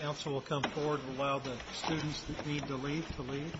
Council will come forward and allow the students that need to leave to leave.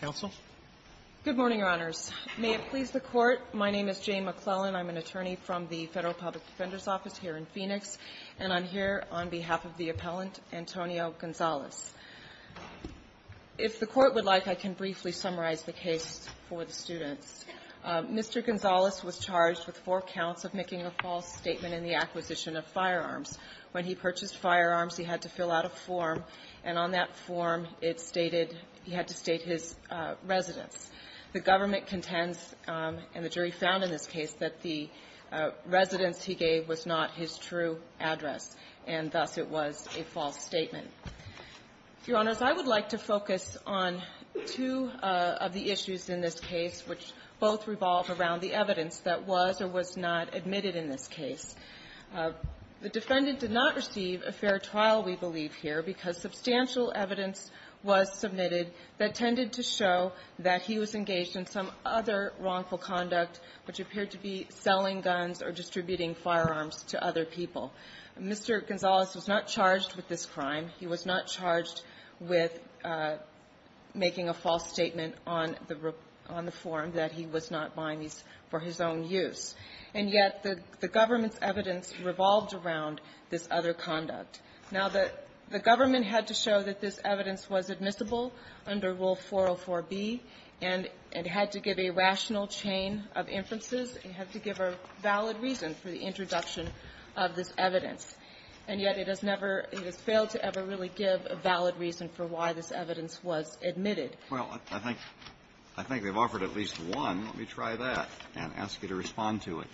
Counsel? Good morning, Your Honors. May it please the Court, my name is Jane McClellan, I'm an attorney from the Federal Public Defender's Office here in Phoenix, and I'm here on behalf of the appellant, Antonio Gonzalez. If the Court would like, I can briefly summarize the case for the students. Mr. Gonzalez was charged with four counts of making a false statement in the acquisition of firearms. When he purchased firearms, he had to fill out a form, and on that form, it stated he had to state his residence. The government contends, and the jury found in this case, that the residence he gave was not his true address, and thus it was a false statement. Your Honors, I would like to focus on two of the issues in this case, which both revolve around the evidence that was or was not admitted in this case. The defendant did not receive a fair trial, we believe here, because substantial evidence was submitted that tended to show that he was engaged in some other wrongful conduct, which appeared to be selling guns or distributing firearms to other people. Mr. Gonzalez was not charged with this crime. He was not charged with making a false statement on the form that he was not buying these for his own use. And yet, the government's evidence revolved around this other conduct. Now, the government had to show that this evidence was admissible under Rule 404b, and it had to give a rational chain of inferences. It had to give a valid reason for the introduction of this evidence. And yet, it has never – it has failed to ever really give a valid reason for why this evidence was admitted. Well, I think they've offered at least one. Let me try that and ask you to respond to it.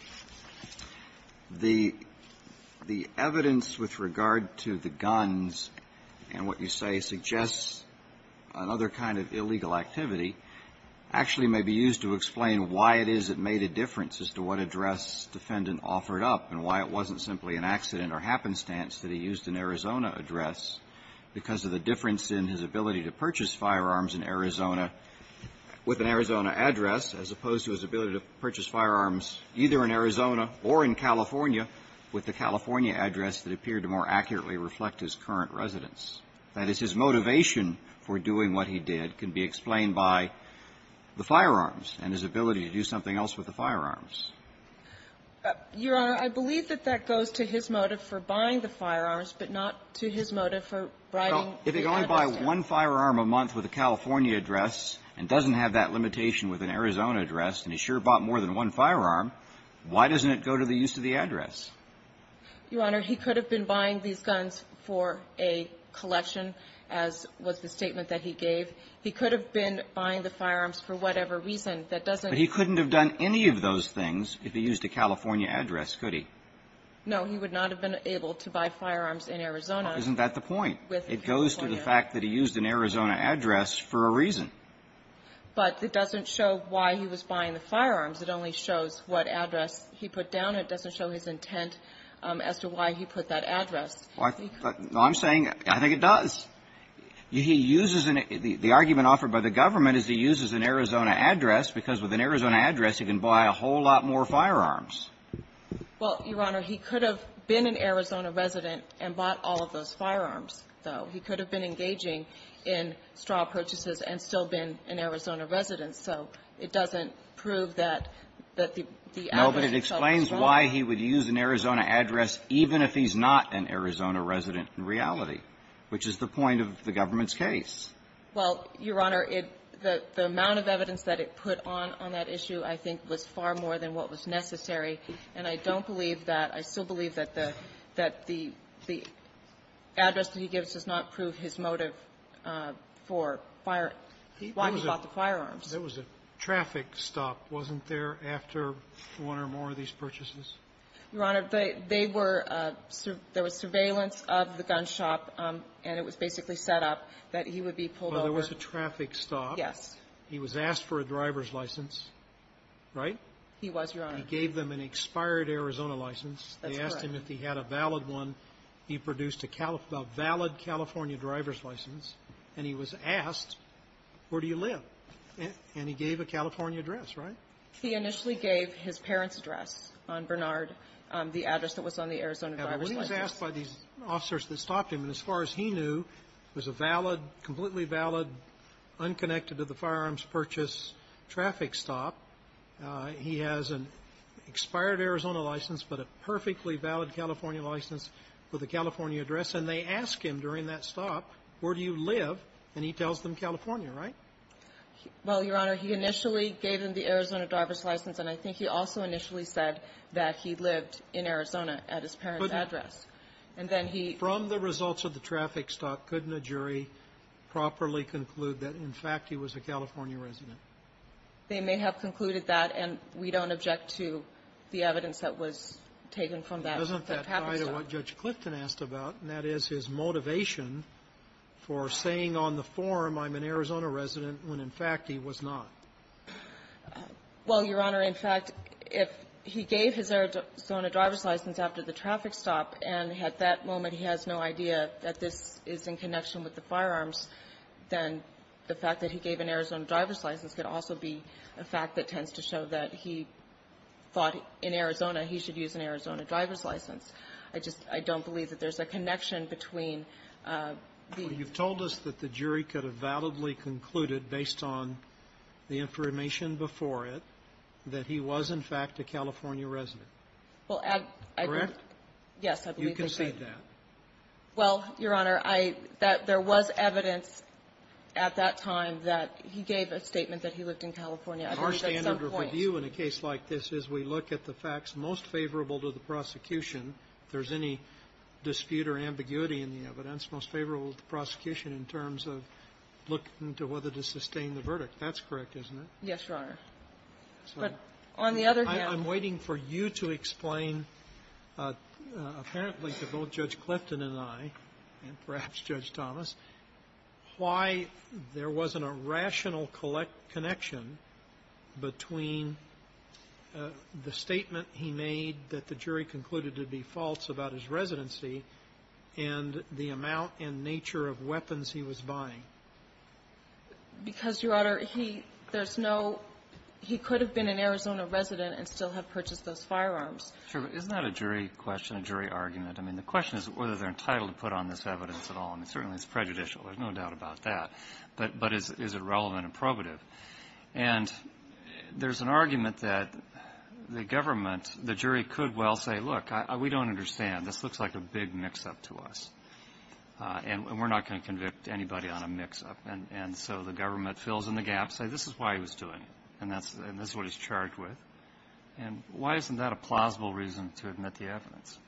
The evidence with regard to the guns and what you say suggests another kind of illegal activity actually may be used to explain why it is it made a difference as to what address the defendant offered up and why it wasn't simply an accident or happenstance that he used an Arizona address because of the difference in his ability to purchase firearms in Arizona with an Arizona address as opposed to his ability to purchase firearms either in Arizona or in California with the California address that appeared to more accurately reflect his current residence, that is, his motivation for doing what he did can be explained by the firearms and his ability to do something else with the firearms. Your Honor, I believe that that goes to his motive for buying the firearms, but not to his motive for writing the address down. Well, if he could only buy one firearm a month with a California address and doesn't have that limitation with an Arizona address, and he sure bought more than one firearm, why doesn't it go to the use of the address? Your Honor, he could have been buying these guns for a collection, as was the statement that he gave. He could have been buying the firearms for whatever reason. But he couldn't have done any of those things if he used a California address, could he? No. He would not have been able to buy firearms in Arizona. Isn't that the point? It goes to the fact that he used an Arizona address for a reason. But it doesn't show why he was buying the firearms. It only shows what address he put down. It doesn't show his intent as to why he put that address. Well, I'm saying I think it does. He uses an – the argument offered by the government is he uses an Arizona address because with an Arizona address, he can buy a whole lot more firearms. Well, Your Honor, he could have been an Arizona resident and bought all of those firearms, though. He could have been engaging in straw purchases and still been an Arizona resident. So it doesn't prove that the evidence itself is wrong. No, but it explains why he would use an Arizona address even if he's not an Arizona resident in reality, which is the point of the government's case. Well, Your Honor, the amount of evidence that it put on on that issue I think was far more than what was necessary, and I don't believe that. I still believe that the address that he gives does not prove his motive for why he bought the firearms. There was a traffic stop, wasn't there, after one or more of these purchases? Your Honor, they were – there was surveillance of the gun shop, and it was basically set up that he would be pulled over. Well, there was a traffic stop. Yes. He was asked for a driver's license, right? He was, Your Honor. He gave them an expired Arizona license. That's correct. They asked him if he had a valid one. He produced a valid California driver's license, and he was asked, where do you live? And he gave a California address, right? He initially gave his parents' address on Bernard, the address that was on the Arizona driver's license. Now, he was asked by these officers that stopped him, and as far as he knew, it was a valid, completely valid, unconnected-to-the-firearms-purchase traffic stop. He has an expired Arizona license, but a perfectly valid California license with a California address, and they ask him during that stop, where do you live? And he tells them California, right? Well, Your Honor, he initially gave them the Arizona driver's license, and I think he also initially said that he lived in Arizona at his parents' address. And then he -- From the results of the traffic stop, couldn't a jury properly conclude that, in fact, he was a California resident? They may have concluded that, and we don't object to the evidence that was taken from that traffic stop. But isn't that tied to what Judge Clifton asked about, and that is his motivation for saying on the form, I'm an Arizona resident, when, in fact, he was not? Well, Your Honor, in fact, if he gave his Arizona driver's license after the traffic stop, and at that moment he has no idea that this is in connection with the firearms, then the fact that he gave an Arizona driver's license could also be a fact that tends to show that he thought in Arizona he should use an Arizona driver's license. I just don't believe that there's a connection between the ---- Well, you've told us that the jury could have validly concluded, based on the information before it, that he was, in fact, a California resident. Well, I believe ---- Correct? Yes, I believe they did. You concede that? Well, Your Honor, I ---- that there was evidence at that time that he gave a statement that he lived in California, I believe at some point. Our standard of review in a case like this is we look at the facts most favorable to the prosecution. If there's any dispute or ambiguity in the evidence, most favorable to the prosecution in terms of looking to whether to sustain the verdict. That's correct, isn't it? Yes, Your Honor. But on the other hand ---- I'm waiting for you to explain, apparently to both Judge Clifton and I, and perhaps Judge Thomas, why there wasn't a rational connection between the statement he made that the jury concluded to be false about his residency and the amount and nature of weapons he was buying. Because, Your Honor, he ---- there's no ---- he could have been an Arizona resident and still have purchased those firearms. Sure. But isn't that a jury question, a jury argument? I mean, the question is whether they're entitled to put on this evidence at all. I mean, certainly it's prejudicial. There's no doubt about that. But is it relevant and probative? And there's an argument that the government, the jury could well say, look, we don't understand. This looks like a big mix-up to us. And we're not going to convict anybody on a mix-up. And so the government fills in the gaps, say this is why he was doing it, and that's what he's charged with. And why isn't that a plausible reason to admit the evidence?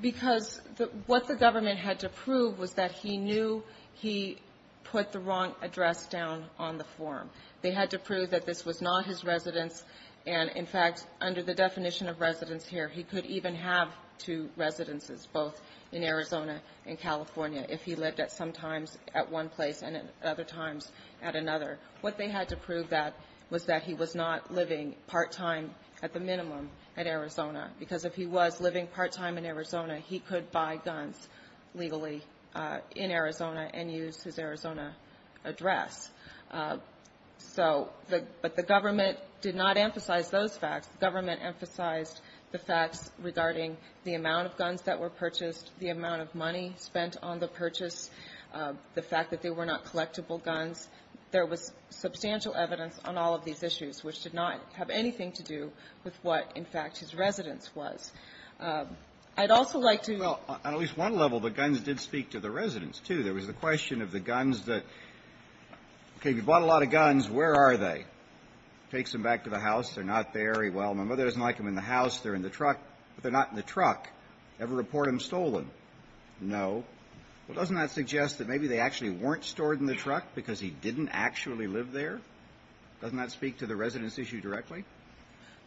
Because what the government had to prove was that he knew he put the wrong address down on the form. They had to prove that this was not his residence. And, in fact, under the definition of residence here, he could even have two residences, both in Arizona and California, if he lived at some times at one place and at other times at another. What they had to prove that was that he was not living part-time, at the minimum, at Arizona. Because if he was living part-time in Arizona, he could buy guns legally in Arizona and use his Arizona address. So the – but the government did not emphasize those facts. The government emphasized the facts regarding the amount of guns that were purchased, the amount of money spent on the purchase, the fact that they were not collectible guns. There was substantial evidence on all of these issues, which did not have anything to do with what, in fact, his residence was. I'd also like to – Well, the guns did speak to the residence, too. There was the question of the guns that – okay, we bought a lot of guns. Where are they? Takes them back to the house. They're not there. He – well, my mother doesn't like them in the house. They're in the truck. But they're not in the truck. Ever report them stolen? No. Well, doesn't that suggest that maybe they actually weren't stored in the truck because he didn't actually live there? Doesn't that speak to the residence issue directly?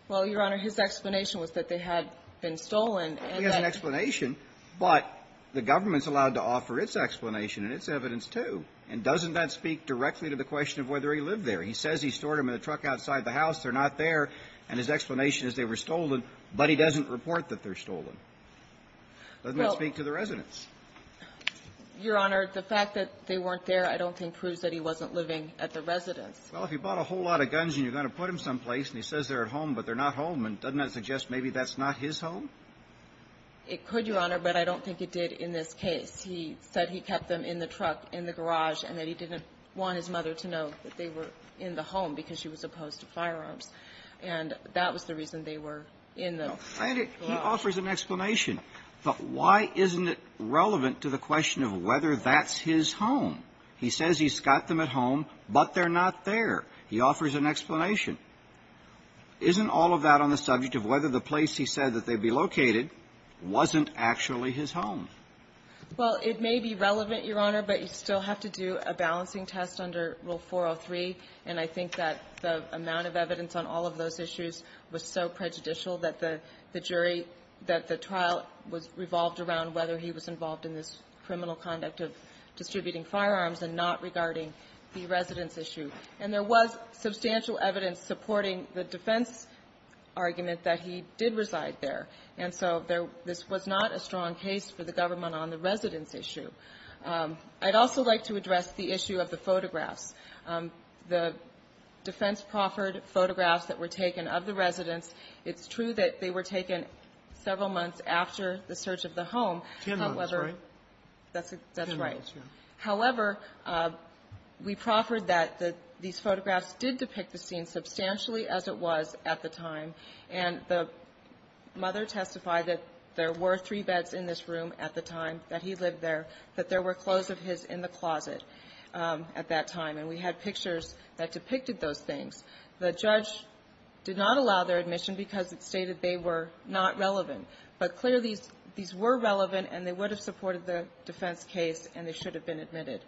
Well, Your Honor, his explanation was that they had been stolen, and that – the government's allowed to offer its explanation and its evidence, too. And doesn't that speak directly to the question of whether he lived there? He says he stored them in the truck outside the house. They're not there. And his explanation is they were stolen, but he doesn't report that they're stolen. Doesn't that speak to the residence? Your Honor, the fact that they weren't there I don't think proves that he wasn't living at the residence. Well, if he bought a whole lot of guns and you're going to put them someplace and he says they're at home but they're not home, doesn't that suggest maybe that's not his home? It could, Your Honor, but I don't think it did in this case. He said he kept them in the truck in the garage and that he didn't want his mother to know that they were in the home because she was opposed to firearms. And that was the reason they were in the garage. He offers an explanation, but why isn't it relevant to the question of whether that's his home? He says he's got them at home, but they're not there. He offers an explanation. Isn't all of that on the subject of whether the place he said that they'd be located wasn't actually his home? Well, it may be relevant, Your Honor, but you still have to do a balancing test under Rule 403. And I think that the amount of evidence on all of those issues was so prejudicial that the jury, that the trial was revolved around whether he was involved in this criminal conduct of distributing firearms and not regarding the residence issue. And there was substantial evidence supporting the defense argument that he did reside there. And so there was not a strong case for the government on the residence issue. I'd also like to address the issue of the photographs. The defense proffered photographs that were taken of the residents. It's true that they were taken several months after the search of the home. That's right. Ten months, yeah. So we proffered that these photographs did depict the scene substantially as it was at the time. And the mother testified that there were three beds in this room at the time that he lived there, that there were clothes of his in the closet at that time. And we had pictures that depicted those things. The judge did not allow their admission because it stated they were not relevant. But clearly, these were relevant, and they would have supported the defense case, and they should have been admitted.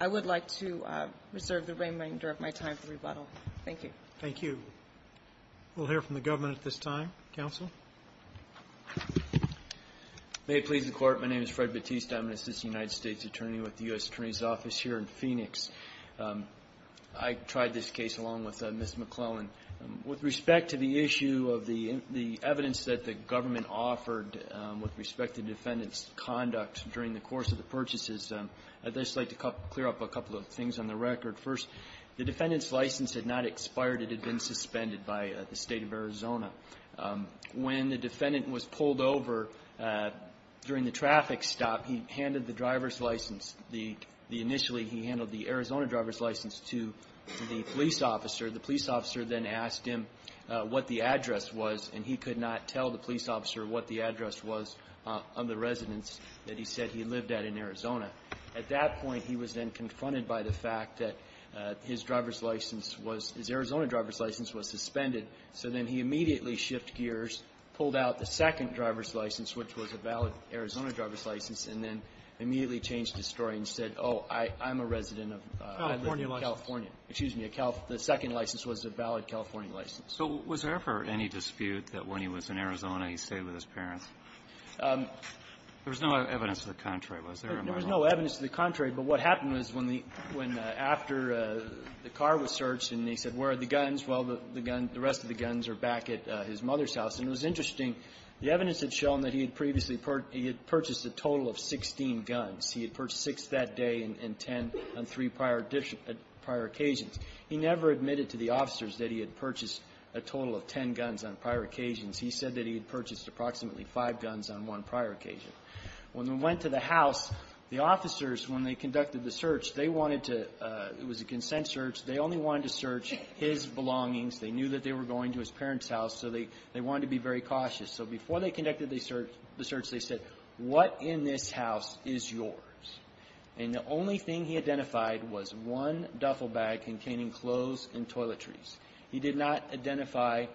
I would like to reserve the remainder of my time for rebuttal. Thank you. Thank you. We'll hear from the government at this time. Counsel. May it please the Court. My name is Fred Batiste. I'm an assistant United States attorney with the U.S. Attorney's Office here in Phoenix. I tried this case along with Ms. McClellan. With respect to the issue of the evidence that the government offered with respect to the defendant's conduct during the course of the purchases, I'd just like to clear up a couple of things on the record. First, the defendant's license had not expired. It had been suspended by the State of Arizona. When the defendant was pulled over during the traffic stop, he handed the driver's license, the initially he handled the Arizona driver's license to the police officer. The police officer then asked him what the address was, and he could not tell the police officer what the address was on the residence that he said he lived at in Arizona. At that point, he was then confronted by the fact that his driver's license was his Arizona driver's license was suspended. So then he immediately shifted gears, pulled out the second driver's license, which was a valid Arizona driver's license, and then immediately changed his story and said, oh, I'm a resident of California. The second license was a valid California license. So was there ever any dispute that when he was in Arizona, he stayed with his parents? There was no evidence to the contrary, was there, in my mind? There was no evidence to the contrary. But what happened was when the --when after the car was searched and they said, where are the guns? Well, the gun --the rest of the guns are back at his mother's house. And it was interesting, the evidence had shown that he had previously purchased a total of 16 guns. He had purchased six that day and ten on three prior occasions. He never admitted to the officers that he had purchased a total of ten guns on prior occasions. He said that he had purchased approximately five guns on one prior occasion. When we went to the house, the officers, when they conducted the search, they wanted to --it was a consent search. They only wanted to search his belongings. They knew that they were going to his parents' house, so they wanted to be very cautious. So before they conducted the search, they said, what in this house is yours? And the only thing he identified was one duffel bag containing clothes and toiletries. He did not identify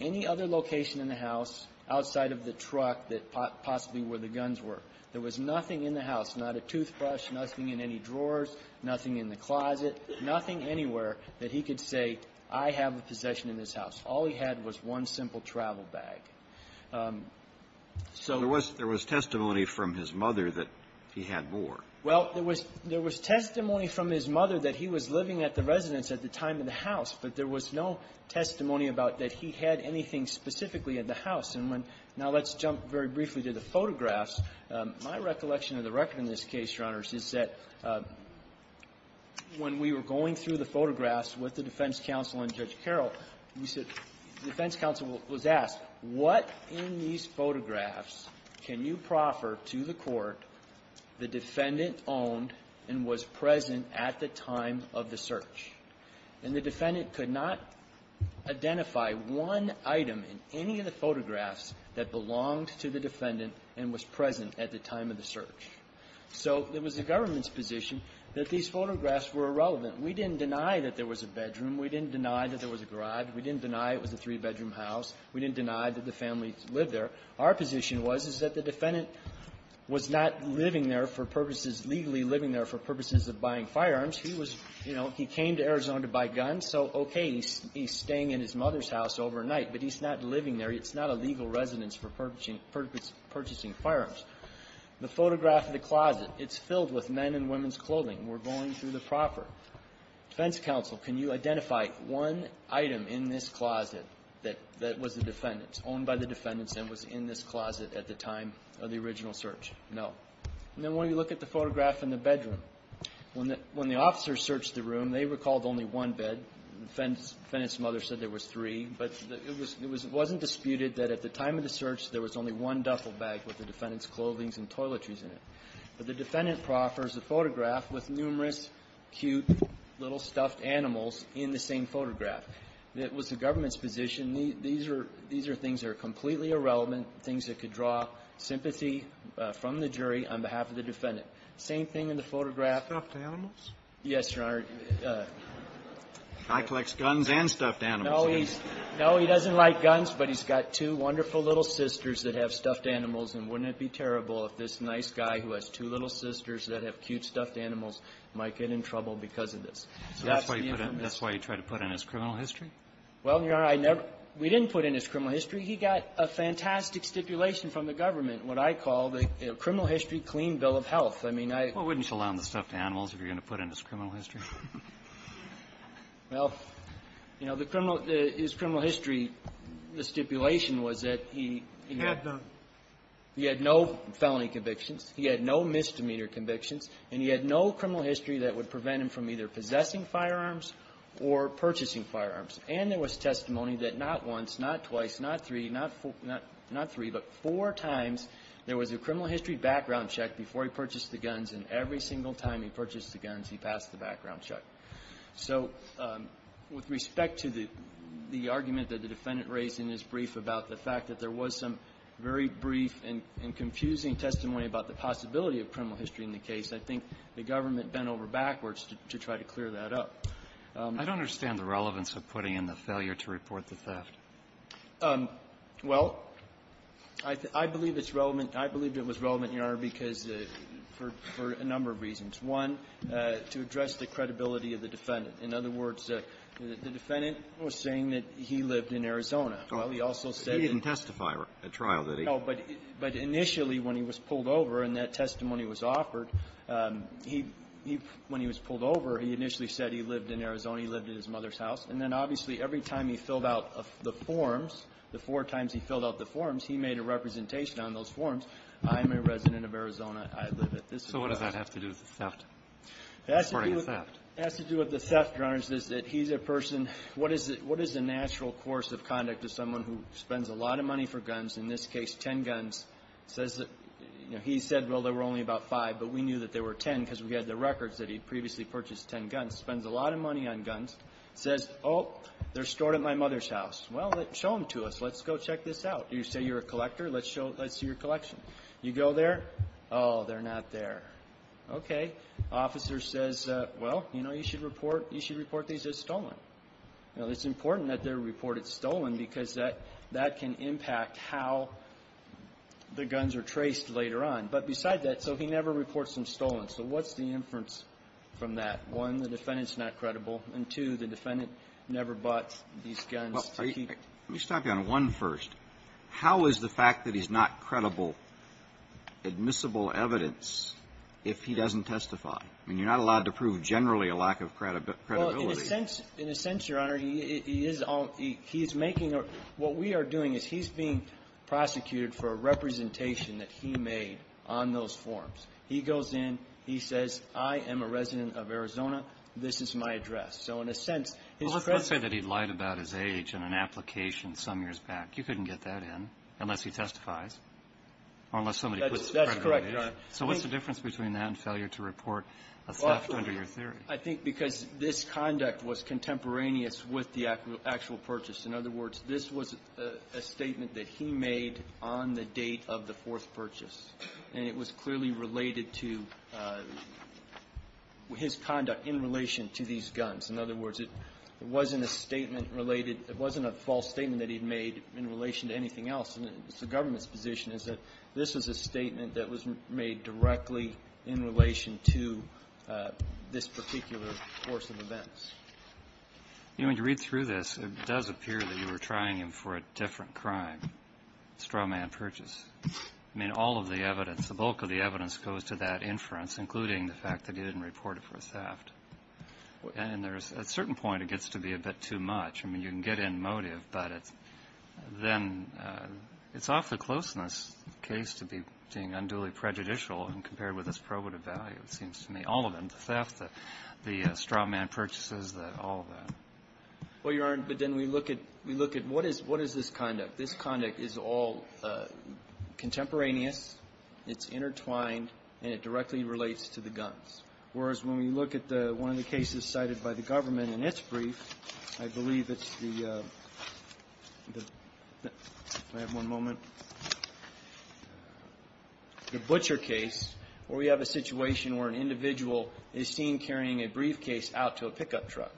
any other location in the house outside of the truck that possibly where the guns were. There was nothing in the house, not a toothbrush, nothing in any drawers, nothing in the closet, nothing anywhere that he could say, I have a possession in this house. All he had was one simple travel bag. So -- There was testimony from his mother that he had more. Well, there was testimony from his mother that he was living at the residence at the time of the house, but there was no testimony about that he had anything specifically at the house. And when – now, let's jump very briefly to the photographs. My recollection of the record in this case, Your Honors, is that when we were going through the photographs with the defense counsel and Judge Carroll, we said – the defense counsel was asked, what in these photographs can you proffer to the Court, the defendant owned and was present at the time of the search? And the defendant could not identify one item in any of the photographs that belonged to the defendant and was present at the time of the search. So it was the government's position that these photographs were irrelevant. We didn't deny that there was a bedroom. We didn't deny that there was a garage. We didn't deny it was a three-bedroom house. We didn't deny that the family lived there. Our position was, is that the defendant was not living there for purposes – legally living there for purposes of buying firearms. He was, you know, he came to Arizona to buy guns, so, okay, he's staying in his mother's house overnight. But he's not living there. It's not a legal residence for purchasing – purchasing firearms. The photograph of the closet, it's filled with men and women's clothing. We're going through the proper. Defense counsel, can you identify one item in this closet that – that was the defendant's owned by the defendants and was in this closet at the time of the original search? No. And then when you look at the photograph in the bedroom, when the – when the officers searched the room, they recalled only one bed. The defendant's mother said there was three. But it was – it wasn't disputed that at the time of the search, there was only one duffel bag with the defendant's clothing and toiletries in it. But the defendant proffers a photograph with numerous cute little stuffed animals in the same photograph. It was the government's position. These are – these are things that are completely irrelevant, things that could draw sympathy from the jury on behalf of the defendant. Same thing in the photograph. Stuffed animals? Yes, Your Honor. Eichlecht's guns and stuffed animals. No, he's – no, he doesn't like guns, but he's got two wonderful little sisters that have stuffed animals. And wouldn't it be terrible if this nice guy who has two little sisters that have cute stuffed animals might get in trouble because of this? That's the information. That's why you put in – that's why you try to put in his criminal history? Well, Your Honor, I never – we didn't put in his criminal history. He got a fantastic stipulation from the government, what I call the criminal history clean bill of health. I mean, I – Well, wouldn't you allow him the stuffed animals if you're going to put in his criminal history? Well, you know, the criminal – his criminal history, the stipulation was that he – He had none. He had no felony convictions. He had no misdemeanor convictions. And he had no criminal history that would prevent him from either possessing firearms or purchasing firearms. And there was testimony that not once, not twice, not three, not four – not three, but four times there was a criminal history background check before he purchased the guns, and every single time he purchased the guns, he passed the background check. So with respect to the – the argument that the Defendant raised in his brief about the fact that there was some very brief and confusing testimony about the possibility of criminal history in the case, I think the government bent over backwards to try to clear that up. I don't understand the relevance of putting in the failure to report the theft. Well, I believe it's relevant. I believe it was relevant, Your Honor, because for – for a number of reasons. One, to address the credibility of the Defendant. In other words, the Defendant was saying that he lived in Arizona. Well, he also said that he – He didn't testify at trial, did he? No. But initially, when he was pulled over and that testimony was offered, he – he – when he was pulled over, he initially said he lived in Arizona. He lived at his mother's house. And then, obviously, every time he filled out the forms, the four times he filled out the forms, he made a representation on those forms, I'm a resident of Arizona. I live at this address. So what does that have to do with the theft? It has to do with the theft, Your Honor, is that he's a person – what is the – what is the natural course of conduct of someone who spends a lot of money for guns, in this case, 10 guns, says – you know, he said, well, there were only about five, but we knew that there were 10 because we had the records that he previously purchased 10 guns – spends a lot of money on guns, says, oh, they're stored at my mother's house. Well, show them to us. Let's go check this out. You say you're a collector. Let's show – let's see your collection. You go there. Oh, they're not there. Okay. Officer says, well, you know, you should report – you should report these as stolen. Now, it's important that they're reported stolen because that – that can impact how the guns are traced later on. But beside that, so he never reports them stolen. So what's the inference from that? One, the defendant's not credible. And two, the defendant never bought these guns to keep – Let me stop you on one first. How is the fact that he's not credible admissible evidence if he doesn't testify? I mean, you're not allowed to prove generally a lack of credibility. Well, in a sense – in a sense, Your Honor, he is – he is making a – what we are doing is he's being prosecuted for a representation that he made on those forms. He goes in. He says, I am a resident of Arizona. This is my address. So in a sense, his credibility – Well, let's say that he lied about his age in an application some years back. You couldn't get that in unless he testifies or unless somebody puts a credit on age. That's correct, Your Honor. So what's the difference between that and failure to report a theft under your theory? I think because this conduct was contemporaneous with the actual purchase. In other words, this was a statement that he made on the date of the fourth purchase. And it was clearly related to his conduct in relation to these guns. In other words, it wasn't a statement related – it wasn't a false statement that he'd made in relation to anything else. It's the government's position is that this is a statement that was made directly in relation to this particular course of events. You know, when you read through this, it does appear that you were trying him for a different crime, a straw man purchase. I mean, all of the evidence, the bulk of the evidence goes to that inference, including the fact that he didn't report it for a theft. And there's – at a certain point, it gets to be a bit too much. I mean, you can get in motive, but it's – then it's off the closeness of the case to be deemed unduly prejudicial when compared with its probative value, it seems to me. All of them, the theft, the straw man purchases, all of that. Well, Your Honor, but then we look at – we look at what is – what is this conduct? This conduct is all contemporaneous. It's intertwined, and it directly relates to the guns. Whereas, when we look at the – one of the cases cited by the government in its brief, I believe it's the – if I have one moment – the butcher case, where we have a situation where an individual is seen carrying a briefcase out to a pickup truck.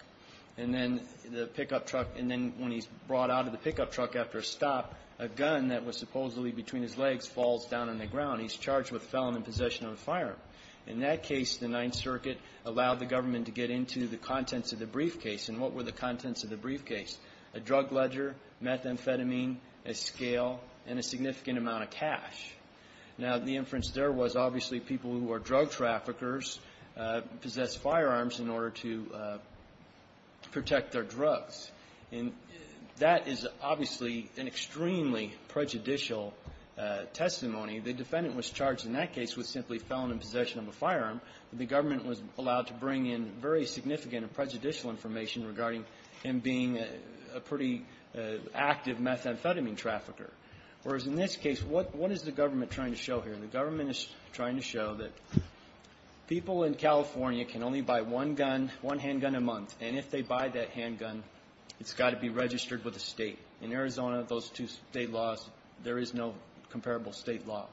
And then the pickup truck – and then when he's brought out of the pickup truck after a stop, a gun that was supposedly between his legs falls down on the ground. He's charged with felon in possession of a firearm. In that case, the Ninth Circuit allowed the government to get into the contents of the briefcase. And what were the contents of the briefcase? A drug ledger, methamphetamine, a scale, and a significant amount of cash. Now, the inference there was obviously people who are drug traffickers possess firearms in order to protect their drugs. And that is obviously an extremely prejudicial testimony. The defendant was charged in that case with simply felon in possession of a firearm. The government was allowed to bring in very significant and prejudicial information regarding him being a pretty active methamphetamine trafficker. Whereas in this case, what is the government trying to show here? The government is trying to show that people in California can only buy one gun, one handgun a month. And if they buy that handgun, it's got to be registered with the state. In Arizona, those two state laws, there is no comparable state law.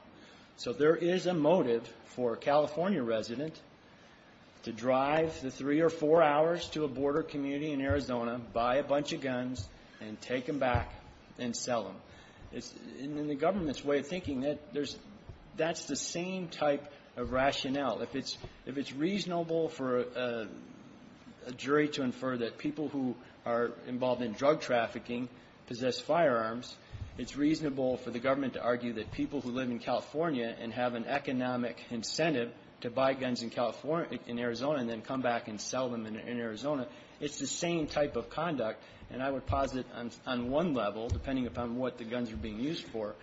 So there is a motive for a California resident to drive the three or four hours to a border community in Arizona, buy a bunch of guns, and take them back and sell them. And in the government's way of thinking, that's the same type of rationale. If it's reasonable for a jury to infer that people who are involved in drug trafficking possess firearms, it's reasonable for the government to argue that people who live in California and have an economic incentive to buy guns in Arizona and then come back and sell them in Arizona, it's the same type of conduct. And I would posit on one level, depending upon what the guns are being used for,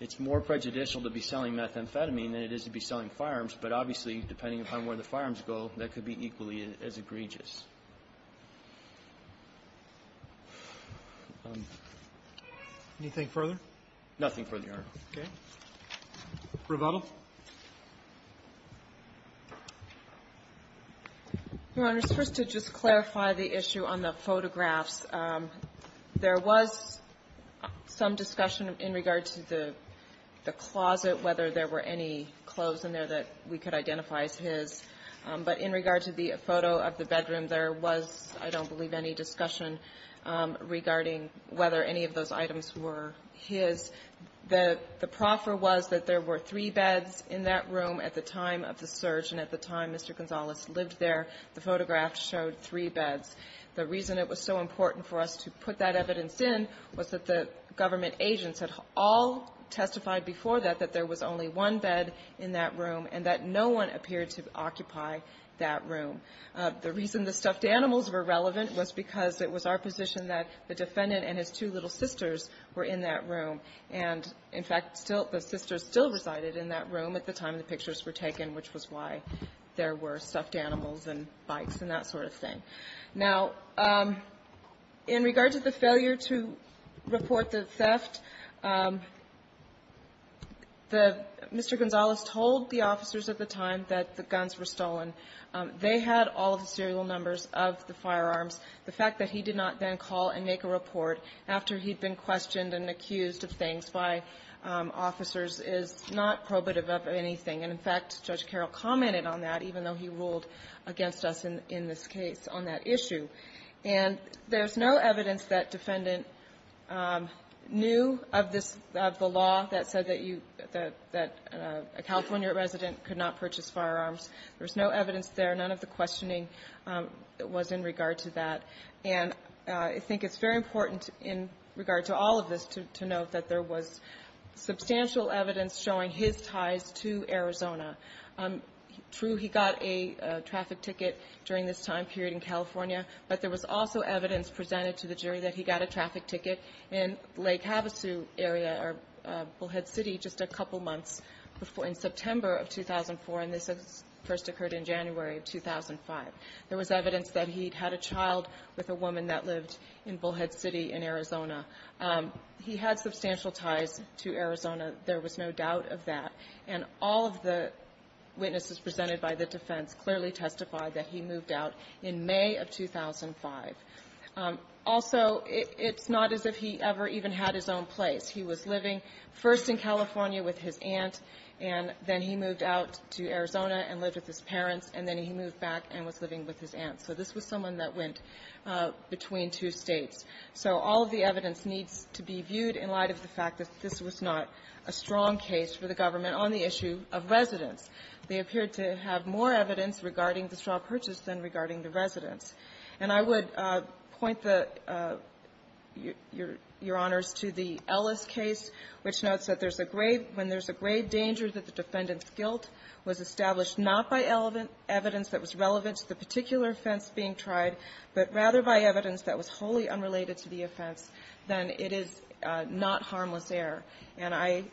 it's more prejudicial to be selling methamphetamine than it is to be selling firearms. But obviously, depending upon where the firearms go, that could be equally as egregious. Anything further? Nothing further, Your Honor. Okay. Rebuttal. Your Honor, just first to just clarify the issue on the photographs, there was some discussion in regard to the closet, whether there were any clothes in there that we could identify as his. But in regard to the photo of the bedroom, there was, I don't believe, any discussion regarding whether any of those items were his. The proffer was that there were three beds in that room at the time of the surge. And at the time Mr. Gonzalez lived there, the photograph showed three beds. The reason it was so important for us to put that evidence in was that the government agents had all testified before that that there was only one bed in that room and that no one appeared to occupy that room. The reason the stuffed animals were relevant was because it was our position that the defendant and his two little sisters were in that room. And, in fact, still the sisters still resided in that room at the time the pictures were taken, which was why there were stuffed animals and bikes and that sort of thing. Now, in regard to the failure to report the theft, the Mr. Gonzalez told the officers at the time that the guns were stolen. They had all of the serial numbers of the firearms. The fact that he did not then call and make a report after he'd been questioned and accused of things by officers is not probative of anything. And, in fact, Judge Carroll commented on that, even though he ruled against us in this case on that issue. And there's no evidence that defendant knew of this law that said that you – that a California resident could not purchase firearms. There's no evidence there. None of the questioning was in regard to that. And I think it's very important in regard to all of this to note that there was substantial evidence showing his ties to Arizona. True, he got a traffic ticket during this time period in California, but there was also evidence presented to the jury that he got a traffic ticket in Lake Havasu area or Bullhead City just a couple months before – in September of 2004, and this first occurred in January of 2005. There was evidence that he'd had a child with a woman that lived in Bullhead City in Arizona. He had substantial ties to Arizona. There was no doubt of that. And all of the witnesses presented by the defense clearly testified that he moved out in May of 2005. Also, it's not as if he ever even had his own place. He was living first in California with his aunt, and then he moved out to Arizona and lived with his parents, and then he moved back and was living with his aunt. So this was someone that went between two States. So all of the evidence needs to be viewed in light of the fact that this was not a strong case for the government on the issue of residence. They appeared to have more evidence regarding the straw purchase than regarding the residence. And I would point the – your Honors to the Ellis case, which notes that there's a grave – when there's a grave danger that the defendant's guilt was established not by evidence that was relevant to the particular offense being tried, but rather by evidence that was wholly unrelated to the offense, then it is not harmless error. And I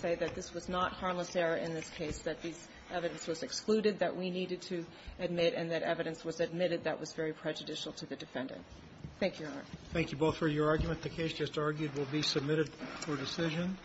say that this was not harmless error in this case, that this evidence was excluded, that we needed to admit, and that evidence was admitted that was very prejudicial to the defendant. Thank you, Your Honor. Roberts. Thank you both for your argument. The case just argued will be submitted for decision.